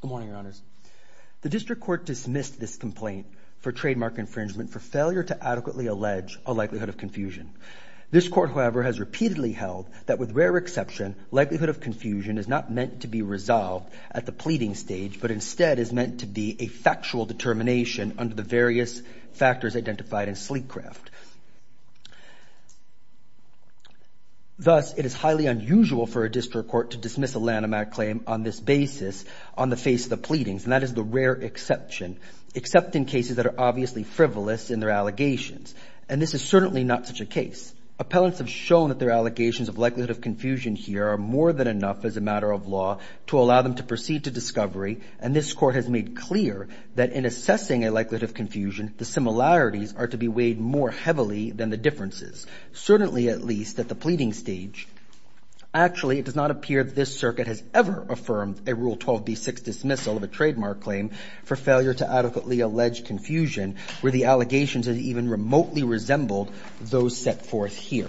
Good morning, your honors. The district court dismissed this complaint for trademark infringement for failure to adequately allege a likelihood of confusion. This court, however, has repeatedly held that with rare exception, likelihood of confusion is not meant to be resolved at the pleading stage, but instead is meant to be a factual determination under the various factors identified in Sleekcraft. Thus, it is highly unusual for a district court to dismiss a Lanham Act claim on this basis on the face of the pleadings, and that is the rare exception, except in cases that are obviously frivolous in their allegations, and this is certainly not such a case. Appellants have shown that their allegations of likelihood of confusion here are more than enough as a matter of law to allow them to proceed to discovery, and this court has made clear that in assessing a likelihood of confusion, the similarities are to be weighed more heavily than the differences, certainly at least at the pleading stage. Actually, it does not appear that this circuit has ever affirmed a Rule 12b6 dismissal of a trademark claim for failure to adequately allege confusion where the allegations have even remotely resembled those set forth here.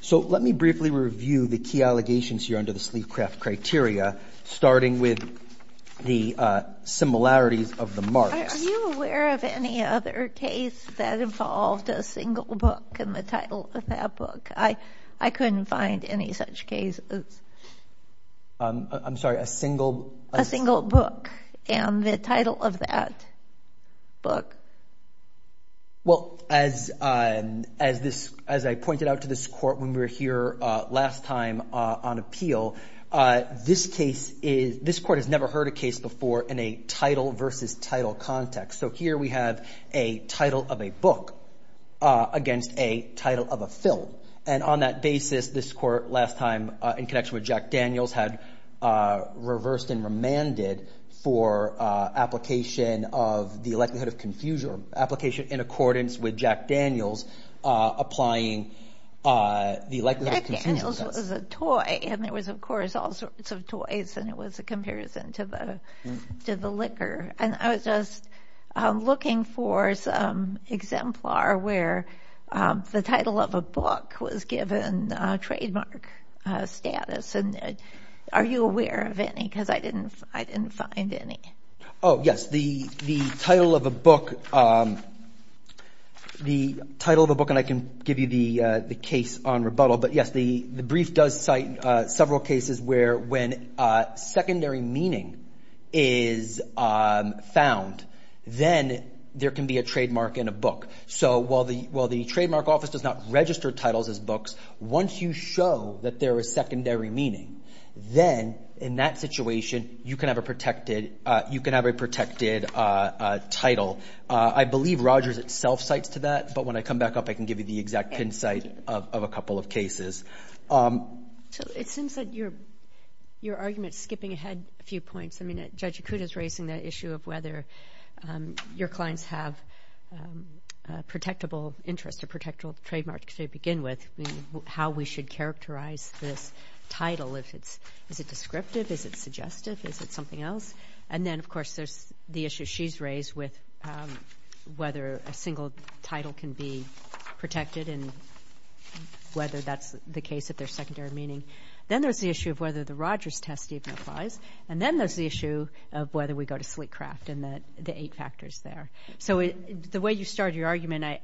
So let me briefly review the key allegations here under the Sleekcraft criteria, starting with the similarities of the marks. Are you aware of any other case that involved a single book and the title of that book? I couldn't find any such cases. I'm sorry, a single? A single book and the title of that book. Well, as I pointed out to this court when we were here last time on appeal, this court has never heard a case before in a title versus title context. So here we have a title of a book against a title of a film, and on that basis, this court last time in connection with Jack Daniels had reversed and remanded for application of the likelihood of confusion or application in accordance with Jack Daniels applying the likelihood of confusion. Jack Daniels was a toy, and there was, of course, all sorts of toys, and it was a comparison to the liquor. And I was just looking for some exemplar where the title of a book was given trademark status. Are you aware of any? Because I didn't find any. Oh, yes. The title of a book, and I can give you the case on rebuttal, but yes, the brief does cite several cases where when secondary meaning is found, then there can be a trademark in a book. So while the trademark office does not register titles as books, once you show that there is secondary meaning, then in that situation, you can have a protected title. I believe Rogers itself cites to that, but when I come back up, I can give you the exact pin site of a couple of cases. So it seems that your argument is skipping ahead a few points. I mean, Judge Yakuta is raising the issue of whether your clients have a protectable interest, a protectable trademark to begin with, how we should characterize this title. Is it descriptive? Is it suggestive? Is it something else? And then, of course, there's the issue she's raised with whether a single title can be protected and whether that's the case if there's secondary meaning. Then there's the issue of whether the Rogers test even applies. And then there's the issue of whether we go to sleek craft and the eight factors there. So the way you start your argument, I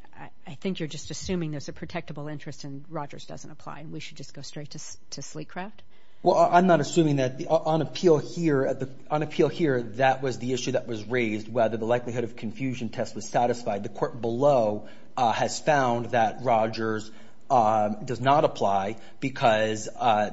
think you're just assuming there's a protectable interest and Rogers doesn't apply and we should just go straight to sleek craft? Well, I'm not assuming that. On appeal here, that was the issue that was raised, whether the likelihood of confusion test was satisfied. The court below has found that Rogers does not apply because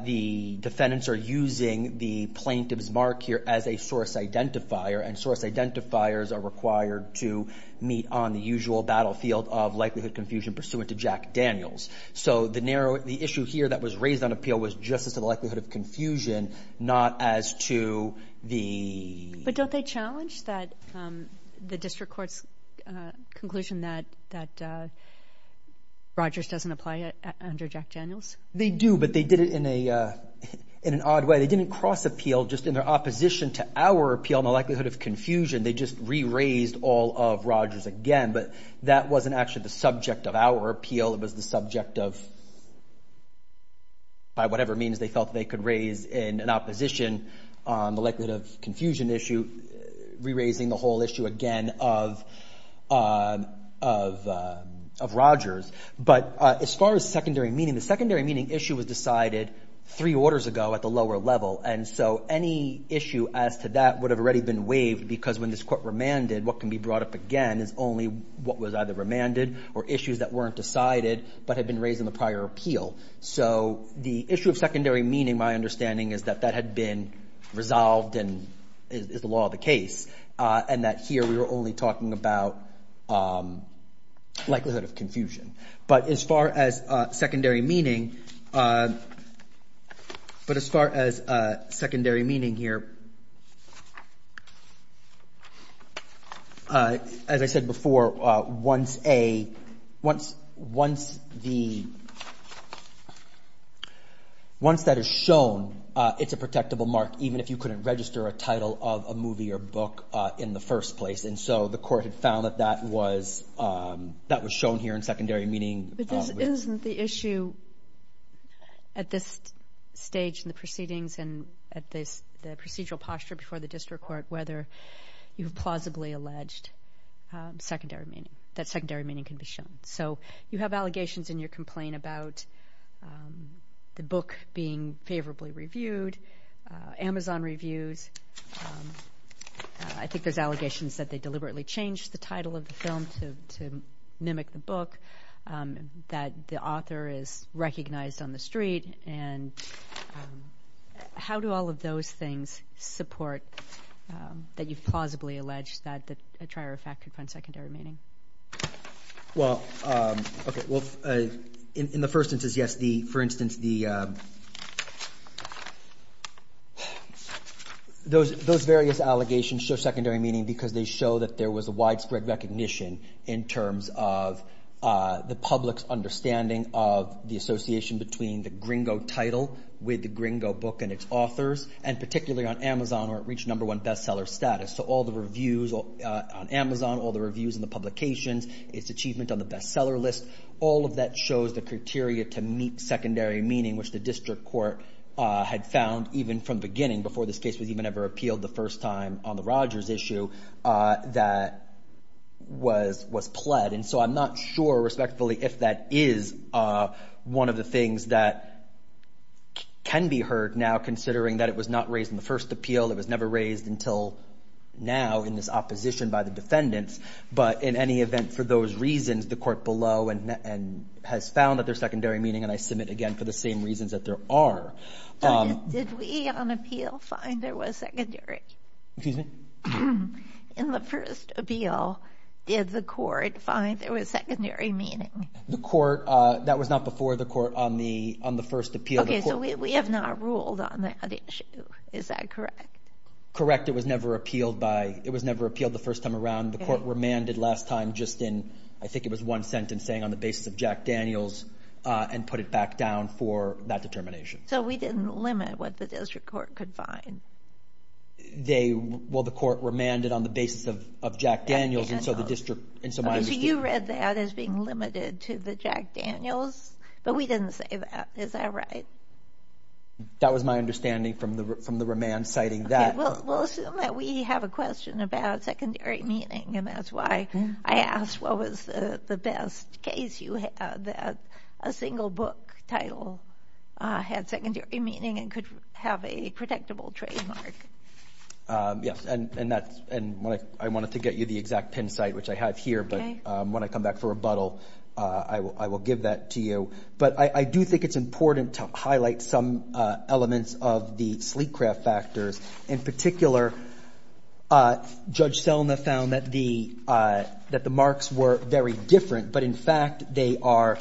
the defendants are using the plaintiff's mark here as a source identifier and source identifiers are required to meet on the usual battlefield of likelihood confusion pursuant to Jack Daniels. So the issue here that was raised on appeal was just as to the likelihood of confusion, not as to the... But don't they challenge the district court's conclusion that Rogers doesn't apply under Jack Daniels? They do, but they did it in an odd way. They didn't cross appeal just in their opposition to our appeal on the likelihood of confusion. They just re-raised all of Rogers again, but that wasn't actually the subject of our appeal. It was the subject of, by whatever means they felt they could raise in an opposition on the likelihood of confusion issue, re-raising the whole issue again of Rogers. But as far as secondary meaning, the secondary meaning issue was decided three orders ago at the lower level. And so any issue as to that would have already been waived because when this court remanded, what can be brought up again is only what was either remanded or issues that weren't decided but had been raised in the prior appeal. So the issue of secondary meaning, my understanding is that that had been resolved and is the law of the case and that here we were only talking about likelihood of confusion. But as far as secondary meaning here, as I said before, once that is shown, it's a protectable mark even if you couldn't register a title of a movie or book in the first place. And so the court had found that that was shown here in secondary meaning. But isn't the issue at this stage in the proceedings and at the procedural posture before the district court whether you've plausibly alleged secondary meaning, that secondary meaning can be shown. So you have allegations in your complaint about the book being favorably reviewed, Amazon reviews. I think there's allegations that they deliberately changed the title of the film to mimic the book, that the author is recognized on the street. And how do all of those things support that you've plausibly alleged that a trier of fact could find secondary meaning? Well, in the first instance, yes, for instance, those various allegations show secondary meaning because they show that there was a widespread recognition in terms of the public's understanding of the association between the gringo title with the gringo book and its authors and particularly on Amazon where it reached number one bestseller status. So all the reviews on Amazon, all the reviews in the publications, its achievement on the bestseller list, all of that shows the criteria to meet secondary meaning, which the district court had found even from the beginning before this case was even ever appealed the first time on the Rogers issue that was pled. And so I'm not sure respectfully if that is one of the things that can be heard now considering that it was not raised in the first appeal. It was never raised until now in this opposition by the defendants. But in any event, for those reasons, the court below and has found that there's secondary meaning and I submit again for the same reasons that there are. Did we on appeal find there was secondary? In the first appeal, did the court find there was secondary meaning? The court, that was not before the court on the first appeal. We have not ruled on that issue. Is that correct? Correct. It was never appealed by, it was never appealed the first time around. The court remanded last time just in, I think it was one sentence saying on the basis of Jack Daniels and put it back down for that determination. So we didn't limit what the district court could find. They, well, the court remanded on the basis of Jack Daniels and so the district, and so my understanding. So you read that as being limited to the Jack Daniels, but we didn't say that. Is that right? That was my understanding from the remand citing that. We'll assume that we have a question about secondary meaning and that's why I asked what was the best case you had that a single book title had secondary meaning and could have a protectable trademark. Yes, and that's, and I wanted to get you the exact pin site, which I have here, but when I come back for rebuttal, I will give that to you. But I do think it's important to highlight some elements of the sleek craft factors. In particular, Judge Selma found that the, that the marks were very different, but in fact they are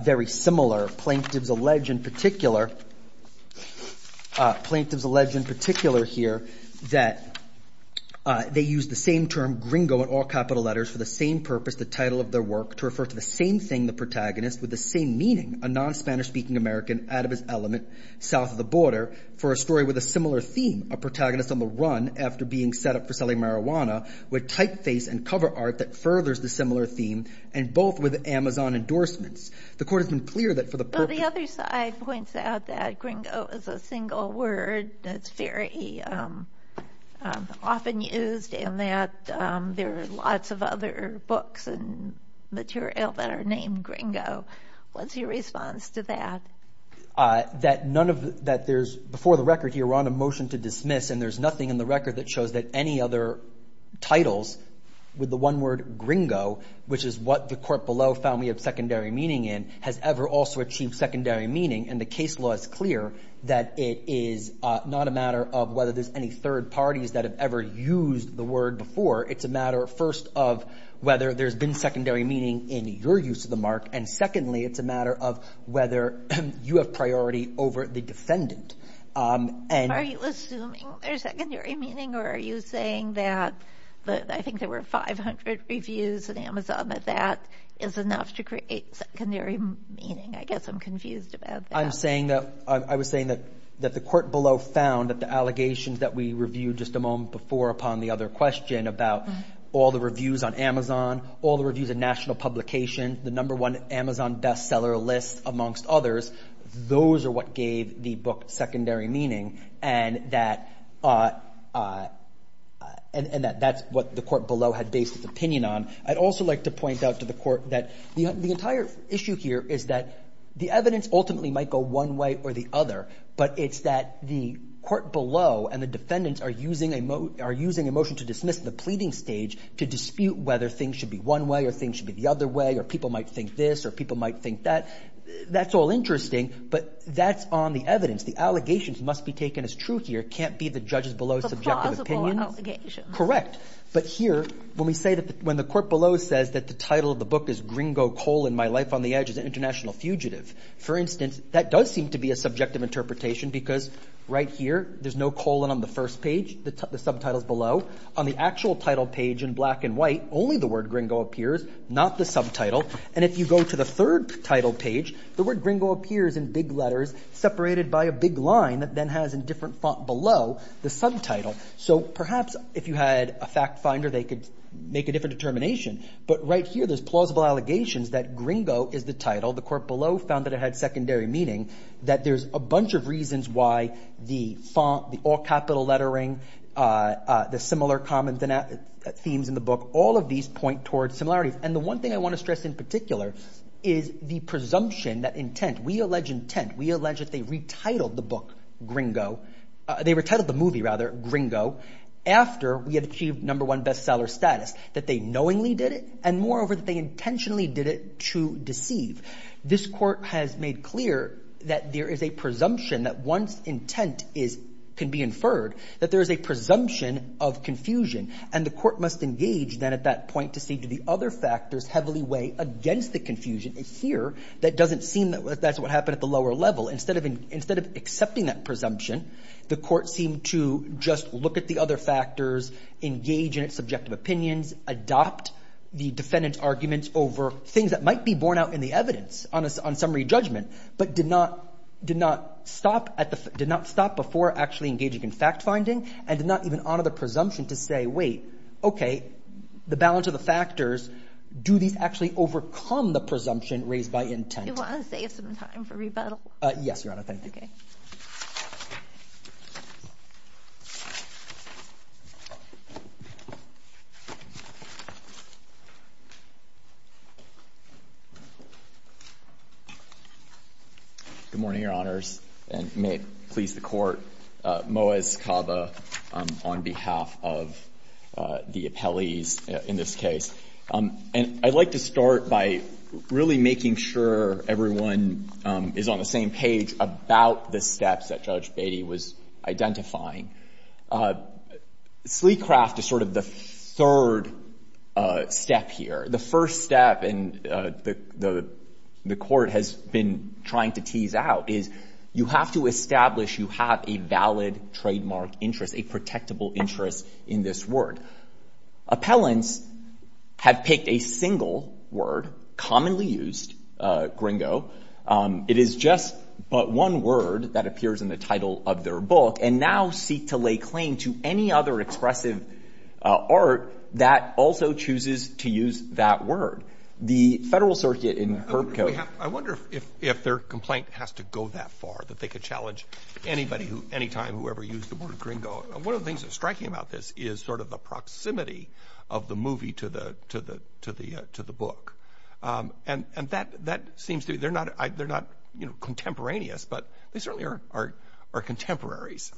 very similar. Plaintiffs allege in particular, plaintiffs allege in particular here that they use the same term gringo in all capital letters for the same purpose, the title of their work to refer to the same thing, the protagonist with the same meaning, a non-Spanish speaking American out of his element South of the border for a story with a similar theme, a protagonist on the run after being set up for selling marijuana with typeface and cover art that furthers the similar theme and both with Amazon endorsements. The court has been clear that for the purpose. The other side points out that gringo is a single word that's very often used in that and there are lots of other books and material that are named gringo. What's your response to that? That none of that there's before the record here on a motion to dismiss and there's nothing in the record that shows that any other titles with the one word gringo, which is what the court below found we have secondary meaning in has ever also achieved secondary meaning and the case law is clear that it is not a matter of whether there's any third parties that have ever used the word before. It's a matter of first of whether there's been secondary meaning in your use of the mark. And secondly, it's a matter of whether you have priority over the defendant and are you assuming there's secondary meaning or are you saying that, but I think there were 500 reviews and Amazon that that is enough to create secondary meaning, I guess I'm confused about that. I'm saying that I was saying that that the court below found that the allegations that we reviewed just a moment before upon the other question about all the reviews on Amazon, all the reviews of national publication, the number one Amazon bestseller list amongst others. Those are what gave the book secondary meaning and that and that that's what the court below had based its opinion on. I'd also like to point out to the court that the entire issue here is that the evidence are using a mo are using emotion to dismiss the pleading stage to dispute whether things should be one way or things should be the other way or people might think this or people might think that that's all interesting, but that's on the evidence. The allegations must be taken as true here. Can't be the judges below subjective opinion, correct? But here when we say that when the court below says that the title of the book is gringo coal in my life on the edge is an international fugitive. For instance, that does seem to be a subjective interpretation because right here there's no colon on the first page that the subtitles below on the actual title page in black and white only the word gringo appears, not the subtitle. And if you go to the third title page, the word gringo appears in big letters separated by a big line that then has in different font below the subtitle. So perhaps if you had a fact finder, they could make a different determination. But right here there's plausible allegations that gringo is the title. The court below found that it had secondary meaning that there's a bunch of reasons why the font, the all capital lettering, the similar common themes in the book, all of these point towards similarities. And the one thing I want to stress in particular is the presumption that intent. We allege intent. We allege that they retitled the book gringo. They were titled the movie rather gringo after we had achieved number one bestseller status, that they knowingly did it and moreover that they intentionally did it to deceive. This court has made clear that there is a presumption that once intent is can be inferred that there is a presumption of confusion and the court must engage then at that point to see to the other factors heavily weigh against the confusion here. That doesn't seem that that's what happened at the lower level. Instead of instead of accepting that presumption, the court seemed to just look at the other factors, engage in its subjective opinions, adopt the defendant's arguments over things that might be borne out in the evidence on a summary judgment, but did not did not stop at the did not stop before actually engaging in fact finding and did not even honor the presumption to say, wait, OK, the balance of the factors. Do these actually overcome the presumption raised by intent? You want to save some time for rebuttal? Yes, Your Honor. Thank you. Good morning, Your Honors, and may it please the Court. Moaz Kaba on behalf of the appellees in this case. And I'd like to start by really making sure everyone is on the same page about the steps that Judge Beatty was identifying. Sleecraft is sort of the third step here. The first step, and the court has been trying to tease out, is you have to establish you have a valid trademark interest, a protectable interest in this word. Appellants have picked a single word, commonly used, gringo. It is just but one word that appears in the title of their book and now seek to lay claim to any other expressive art that also chooses to use that word. The Federal Circuit in- I wonder if their complaint has to go that far, that they could challenge anybody, any time, whoever used the word gringo. One of the things that's striking about this is sort of the proximity of the movie to the book. And that seems to be – they're not contemporaneous, but they certainly are contemporaries.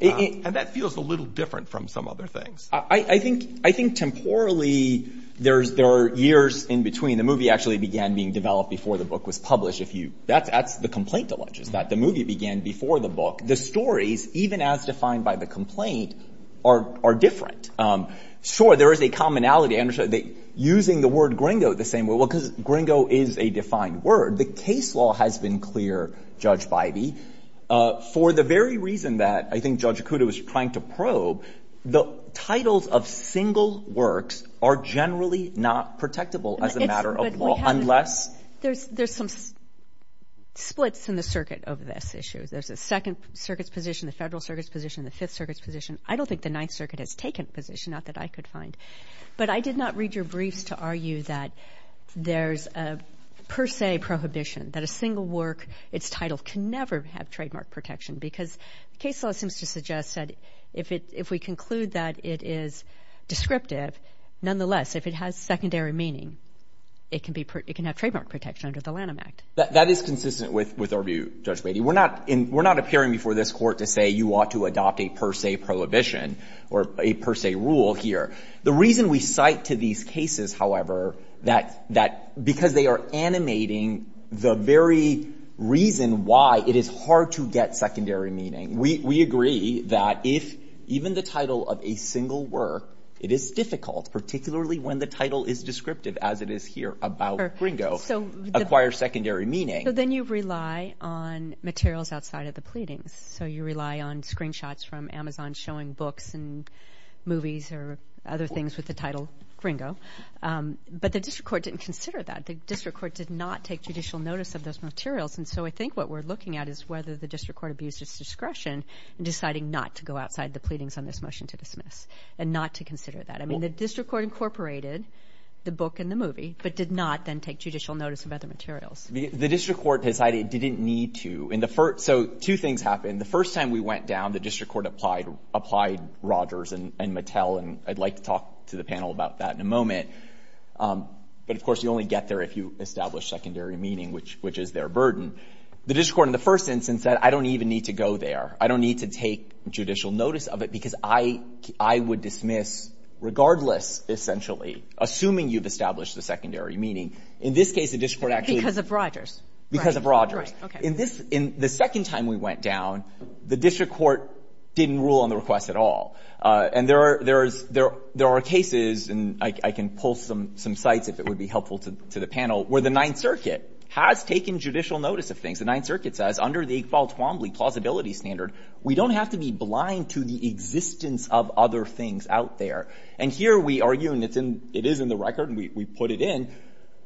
And that feels a little different from some other things. I think temporally there are years in between. The movie actually began being developed before the book was published. That's the complaint alleges, that the movie began before the book. The stories, even as defined by the complaint, are different. Sure, there is a commonality. Using the word gringo the same way, well, because gringo is a defined word, the case law has been clear, Judge Bivey. For the very reason that I think Judge Okuda was trying to probe, the titles of single works are generally not protectable as a matter of law unless- There's some splits in the circuit of this issue. There's a Second Circuit's position, the Federal Circuit's position, the Fifth Circuit's position. I don't think the Ninth Circuit has taken a position, not that I could find. But I did not read your briefs to argue that there's a per se prohibition, that a single work, its title can never have trademark protection, because the case law seems to suggest that if we conclude that it is descriptive, nonetheless, if it has secondary meaning, it can have trademark protection under the Lanham Act. That is consistent with our view, Judge Bivey. We're not appearing before this Court to say you ought to adopt a per se prohibition or a per se rule here. The reason we cite to these cases, however, that because they are animating the very reason why it is hard to get secondary meaning. We agree that if even the title of a single work, it is difficult, particularly when the title is descriptive, as it is here about Gringo, acquires secondary meaning. So then you rely on materials outside of the pleadings. So you rely on screenshots from Amazon showing books and movies or other things with the title Gringo. But the district court didn't consider that. The district court did not take judicial notice of those materials. And so I think what we're looking at is whether the district court abused its discretion in deciding not to go outside the pleadings on this motion to dismiss and not to consider that. I mean, the district court incorporated the book and the movie, but did not then take judicial notice of other materials. The district court decided it didn't need to. So two things happened. The first time we went down, the district court applied Rogers and Mattel, and I'd like to talk to the panel about that in a moment. But, of course, you only get there if you establish secondary meaning, which is their burden. The district court in the first instance said, I don't even need to go there. I don't need to take judicial notice of it because I would dismiss regardless, essentially, assuming you've established the secondary meaning. In this case, the district court actually. Because of Rogers. Because of Rogers. Okay. The second time we went down, the district court didn't rule on the request at all. And there are cases, and I can pull some sites if it would be helpful to the panel, where the Ninth Circuit has taken judicial notice of things. The Ninth Circuit says under the Iqbal-Twombly plausibility standard, we don't have to be blind to the existence of other things out there. And here we argue, and it is in the record, and we put it in,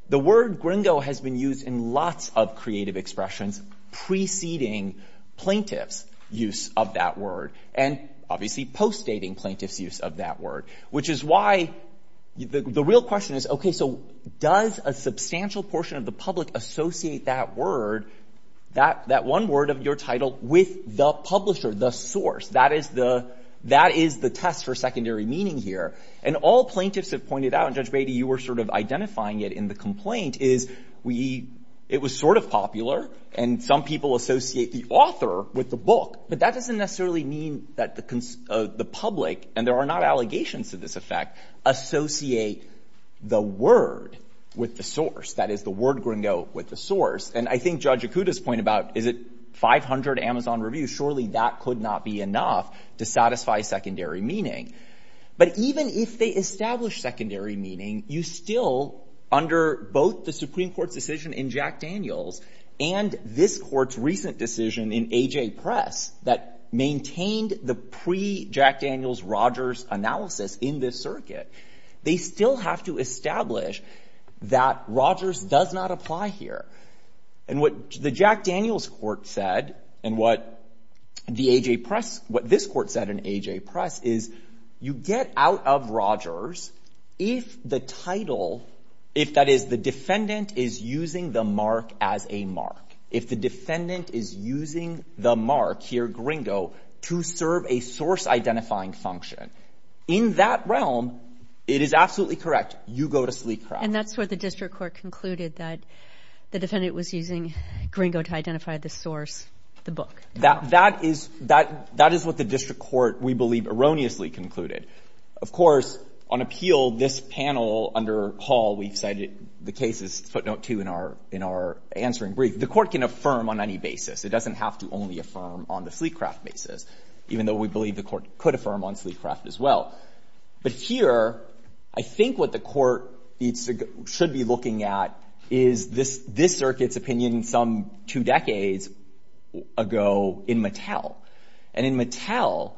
the word gringo has been used in lots of creative expressions preceding plaintiff's use of that word. And, obviously, postdating plaintiff's use of that word. Which is why the real question is, okay, so does a substantial portion of the public associate that word, that one word of your title, with the publisher, the source? That is the test for secondary meaning here. And all plaintiffs have pointed out, and Judge Beatty, you were sort of identifying it in the complaint, is we, it was sort of popular, and some people associate the author with the book. But that doesn't necessarily mean that the public, and there are not allegations to this effect, associate the word with the source. That is, the word gringo with the source. And I think Judge Ikuda's point about, is it 500 Amazon reviews, surely that could not be enough to satisfy secondary meaning. But even if they establish secondary meaning, you still, under both the Supreme Court's decision in Jack Daniels, and this court's recent decision in AJ Press, that maintained the pre-Jack Daniels-Rogers analysis in this circuit, they still have to establish that Rogers does not apply here. And what the Jack Daniels court said, and what the AJ Press, what this court said in out of Rogers, if the title, if that is, the defendant is using the mark as a mark. If the defendant is using the mark here, gringo, to serve a source-identifying function. In that realm, it is absolutely correct. You go to sleep. And that's where the district court concluded that the defendant was using gringo to identify the source, the book. That is what the district court, we believe, erroneously concluded. Of course, on appeal, this panel under Hall, we've cited the cases, footnote 2 in our answering brief. The court can affirm on any basis. It doesn't have to only affirm on the Sleekcraft basis, even though we believe the court could affirm on Sleekcraft as well. But here, I think what the court should be looking at is this circuit's opinion some two decades ago in Mattel. And in Mattel,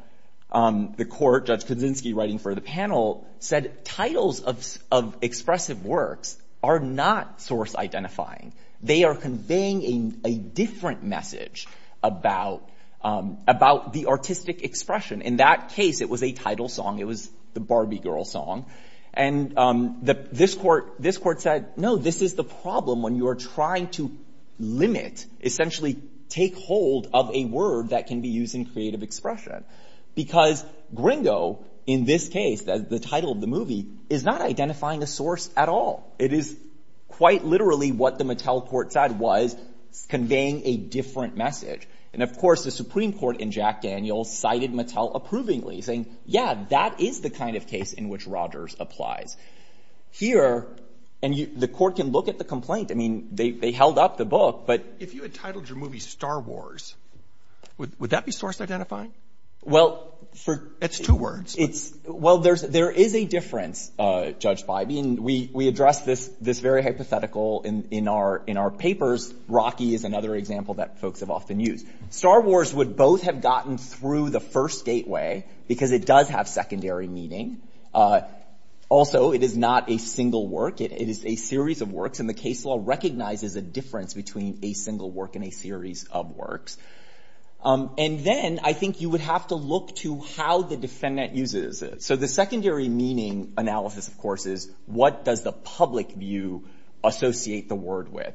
the court, Judge Kaczynski writing for the panel, said titles of expressive works are not source-identifying. They are conveying a different message about the artistic expression. In that case, it was a title song. It was the Barbie Girl song. And this court said, no, this is the problem when you are trying to limit, essentially take hold of a word that can be used in creative expression. Because gringo, in this case, the title of the movie, is not identifying a source at all. It is quite literally what the Mattel court said was conveying a different message. And, of course, the Supreme Court in Jack Daniels cited Mattel approvingly, saying, yeah, that is the kind of case in which Rogers applies. Here, and the court can look at the complaint. I mean, they held up the book. But... If you had titled your movie Star Wars, would that be source-identifying? Well... It's two words. Well, there is a difference, Judge Bybee. And we address this very hypothetical in our papers. Rocky is another example that folks have often used. Star Wars would both have gotten through the first gateway, because it does have secondary meaning. Also, it is not a single work. It is a series of works. And the case law recognizes a difference between a single work and a series of works. And then, I think you would have to look to how the defendant uses it. So, the secondary meaning analysis, of course, is what does the public view associate the word with?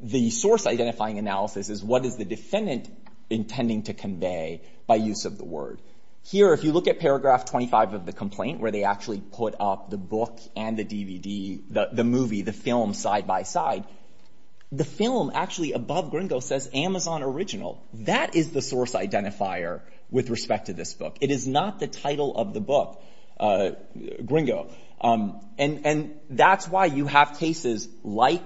The source-identifying analysis is what is the defendant intending to convey by use of the word? Here, if you look at paragraph 25 of the complaint, where they actually put up the book and the DVD, the movie, the film side-by-side, the film, actually, above Gringo, says Amazon Original. That is the source-identifier with respect to this book. It is not the title of the book, Gringo. And that is why you have cases like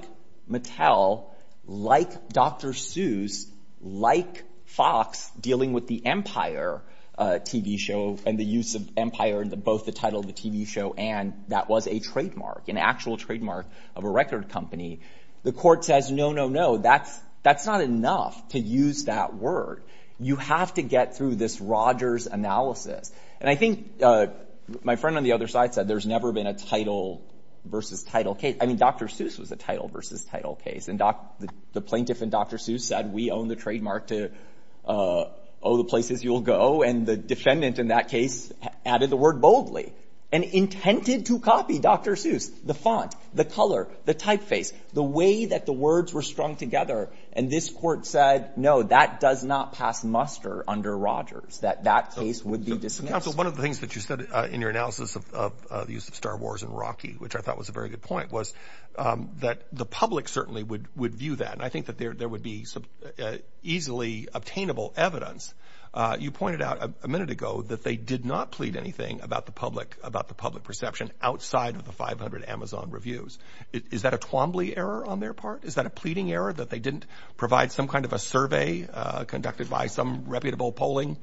Mattel, like Dr. Seuss, like Fox, dealing with the Empire TV show and the use of Empire, both the title of the TV show and that was a trademark, an actual trademark of a record company. The court says, no, no, no. That is not enough to use that word. You have to get through this Rogers analysis. And I think my friend on the other side said there has never been a title versus title case. I mean, Dr. Seuss was a title versus title case. And the plaintiff and Dr. Seuss said, we own the trademark to, oh, the places you will go. And the defendant in that case added the word boldly and intended to copy Dr. Seuss, the font, the color, the typeface, the way that the words were strung together. And this court said, no, that does not pass muster under Rogers, that that case would be dismissed. Counsel, one of the things that you said in your analysis of the use of Star Wars and Rocky, which I thought was a very good point, was that the public certainly would view that. And I think that there would be easily obtainable evidence. You pointed out a minute ago that they did not plead anything about the public, about the public perception outside of the 500 Amazon reviews. Is that a Twombly error on their part? Is that a pleading error that they didn't provide some kind of a survey conducted by some reputable polling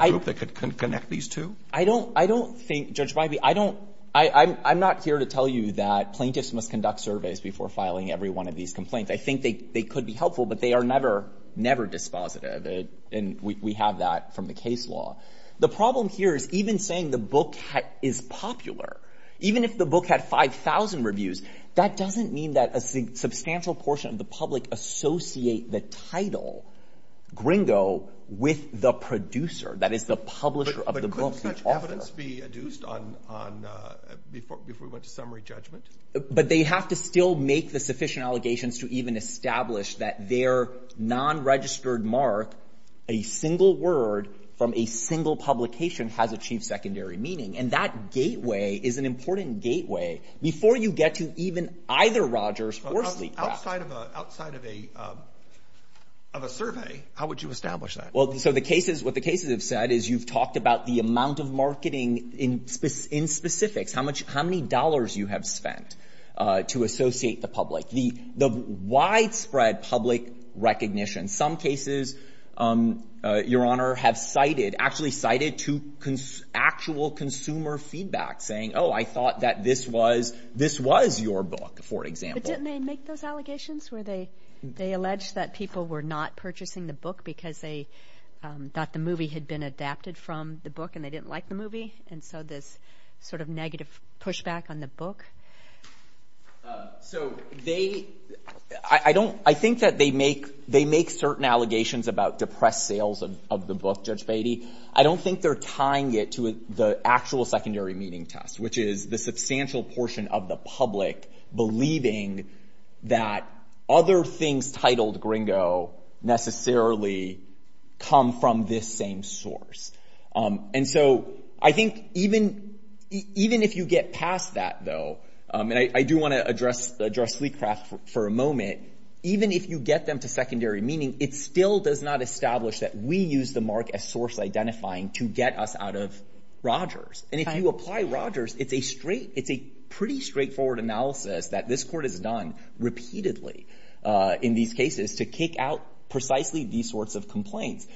group that could connect these two? I don't think, Judge Bivey, I'm not here to tell you that plaintiffs must conduct surveys before filing every one of these complaints. I think they could be helpful, but they are never, never dispositive. And we have that from the case law. The problem here is even saying the book is popular, even if the book had 5,000 reviews, that doesn't mean that a substantial portion of the public associate the title, Gringo, with the producer, that is the publisher of the book. But couldn't such evidence be adduced before we went to summary judgment? But they have to still make the sufficient allegations to even establish that their non-registered mark, a single word from a single publication, has achieved secondary meaning. And that gateway is an important gateway. Before you get to even either Rogers or Sleevecraft. Outside of a survey, how would you establish that? Well, so the cases, what the cases have said is you've talked about the amount of marketing in specifics, how many dollars you have spent to associate the public. The widespread public recognition, some cases, Your Honor, have cited, actually cited to actual consumer feedback saying, oh, I thought that this was your book, for example. But didn't they make those allegations where they alleged that people were not purchasing the book because they thought the movie had been adapted from the book and they didn't like the movie? And so this sort of negative pushback on the book? So they, I don't, I think that they make certain allegations about depressed sales of the book, Judge Beatty. I don't think they're tying it to the actual secondary meaning test, which is the substantial portion of the public believing that other things titled Gringo necessarily come from this same source. And so I think even if you get past that, though, and I do want to address Sleevecraft for a moment, even if you get them to secondary meaning, it still does not establish that we use the mark as source identifying to get us out of Rogers. And if you apply Rogers, it's a straight, it's a pretty straightforward analysis that this Court has done repeatedly in these cases to kick out precisely these sorts of complaints.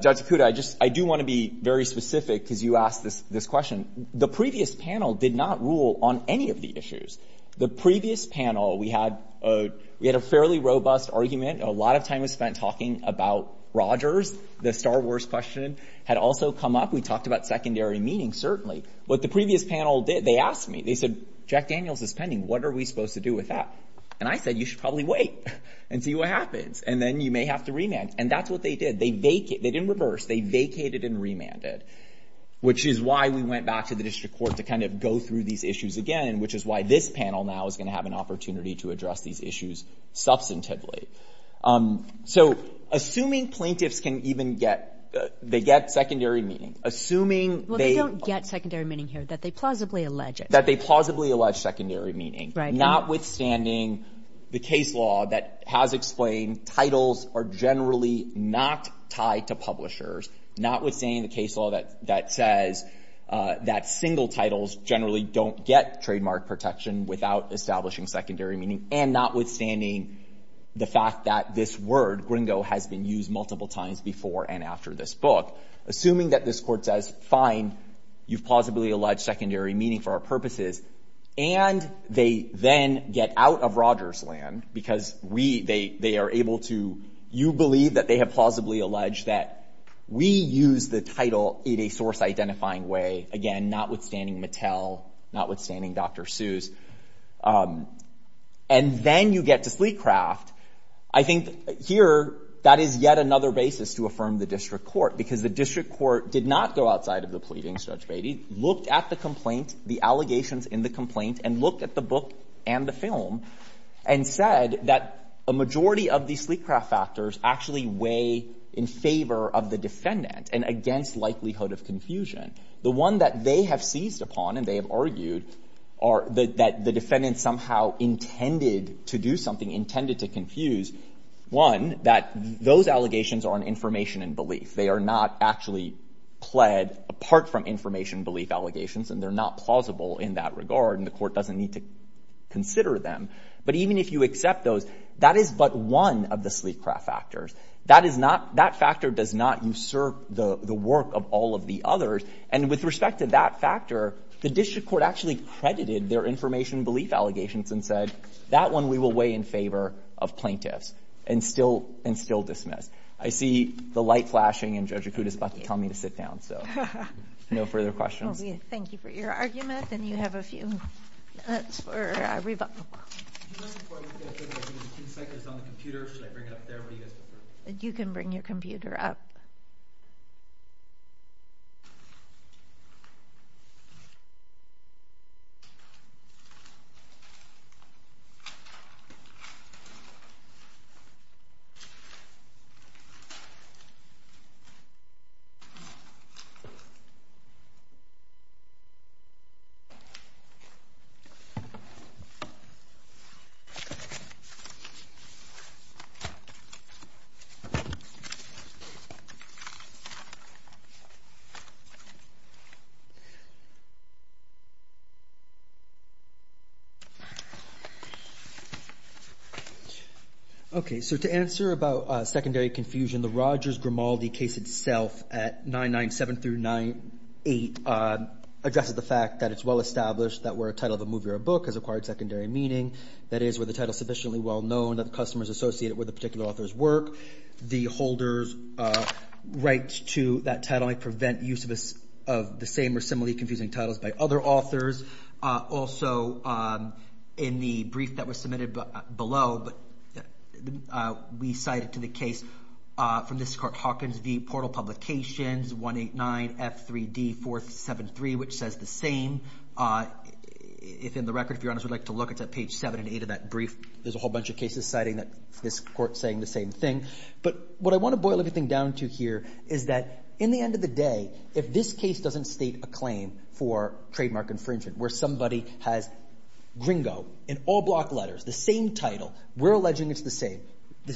Judge Okuda, I just, I do want to be very specific because you asked this question. The previous panel did not rule on any of the issues. The previous panel, we had, we had a fairly robust argument. A lot of time was spent talking about Rogers. The Star Wars question had also come up. We talked about secondary meaning, certainly. What the previous panel did, they asked me, they said, Jack Daniels is pending. What are we supposed to do with that? And I said, you should probably wait and see what happens. And then you may have to remand. And that's what they did. They vacated, they didn't reverse. They vacated and remanded, which is why we went back to the District Court to kind of go through these issues again, which is why this panel now is going to have an opportunity to address these issues substantively. So, assuming plaintiffs can even get, they get secondary meaning, assuming they Well, they don't get secondary meaning here, that they plausibly allege it. That they plausibly allege secondary meaning, notwithstanding the case law that has explained titles are generally not tied to publishers, notwithstanding the case law that says that single titles generally don't get trademark protection without establishing secondary meaning, and notwithstanding the fact that this word, gringo, has been used multiple times before and after this book. Assuming that this Court says, fine, you've plausibly alleged secondary meaning for our purposes, and they then get out of Rogers' land because we, they are able to, you believe that they have plausibly alleged that we use the title in a source identifying way, again, notwithstanding Mattel, notwithstanding Dr. Seuss. And then you get to Sleecraft. I think here, that is yet another basis to affirm the district court, because the district court did not go outside of the pleadings, Judge Beatty, looked at the complaint, the allegations in the complaint, and looked at the book and the film, and said that a majority of these Sleecraft factors actually weigh in favor of the defendant and against likelihood of confusion. The one that they have seized upon, and they have argued, that the defendant somehow intended to do something, intended to confuse, one, that those allegations are on information and belief. They are not actually pled apart from information belief allegations, and they're not plausible in that regard, and the court doesn't need to consider them. But even if you accept those, that is but one of the Sleecraft factors. That is not – that factor does not usurp the work of all of the others. And with respect to that factor, the district court actually credited their information and belief allegations and said, that one we will weigh in favor of plaintiffs and still – and still dismiss. I see the light flashing, and Judge Acuta is about to tell me to sit down, so no further questions. Thank you for your argument, and you have a few minutes for rebuttal. If you don't mind, I'm going to take a few seconds on the computer. Should I bring it up there? What do you guys prefer? You can bring your computer up. Okay. So to answer about secondary confusion, the Rogers-Grimaldi case itself at 997-98 addresses the fact that it's well established that where a title of a movie or a book has acquired secondary meaning, that is where the title is sufficiently well known that the customer is associated with a particular author's work. The holders' rights to that title may prevent use of the same or similarly confusing titles by other authors. Also, in the brief that was submitted below, we cited to the case from the Secart-Hawkins v. Portal Publications, 189F3D473, which says the same. If, in the record, if you're honest, we'd like to look, it's at page 7 and 8 of that brief. There's a whole bunch of cases citing that this court saying the same thing. But what I want to boil everything down to here is that, in the end of the day, if this case doesn't state a claim for trademark infringement, where somebody has gringo in all block letters, the same title, we're alleging it's the same,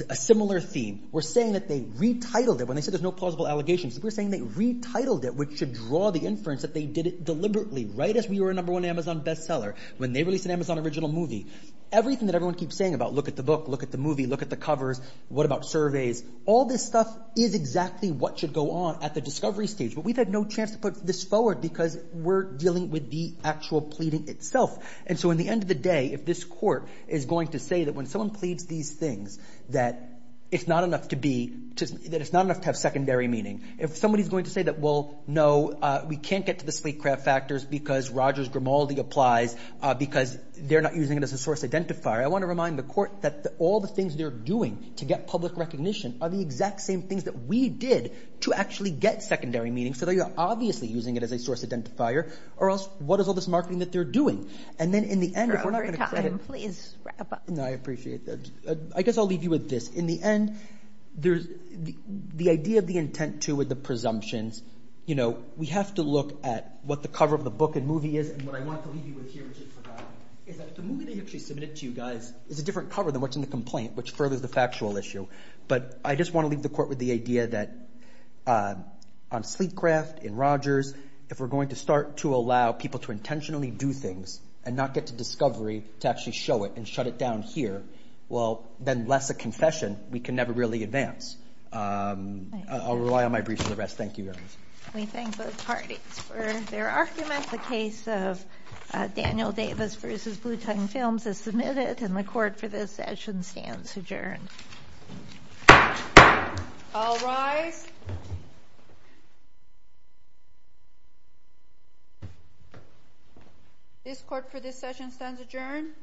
a similar theme, we're saying that they retitled it when they said there's no plausible allegations. We're saying they retitled it, which should draw the inference that they did it deliberately right as we were a number one Amazon bestseller when they released an Amazon original movie. Everything that everyone keeps saying about look at the book, look at the movie, look at the covers, what about surveys, all this stuff is exactly what should go on at the discovery stage. But we've had no chance to put this forward because we're dealing with the actual pleading itself. And so, in the end of the day, if this court is going to say that when someone pleads these things that it's not enough to be, that it's not enough to have secondary meaning, if somebody's going to say that, well, no, we can't get to the sleek craft factors because Rogers Grimaldi applies because they're not using it as a source identifier, I want to remind the court that all the things they're doing to get public recognition are the exact same things that we did to actually get secondary meaning. So they are obviously using it as a source identifier, or else what is all this marketing that they're doing? And then in the end, if we're not going to... Over time, please wrap up. No, I appreciate that. I guess I'll leave you with this. In the end, the idea of the intent to the presumptions, we have to look at what the cover of the book and movie is. And what I want to leave you with here, which I forgot, is that the movie they actually submitted to you guys is a different cover than what's in the complaint, which furthers the factual issue. But I just want to leave the court with the idea that on sleek craft, in Rogers, if we're going to start to allow people to intentionally do things and not get to discovery to actually show it and shut it down here, well, then less a confession. We can never really advance. I'll rely on my brief for the rest. Thank you, Your Honor. We thank both parties for their arguments. The case of Daniel Davis versus Blue Tongue Films is submitted, and the court for this session stands adjourned. All rise. This court for this session stands adjourned.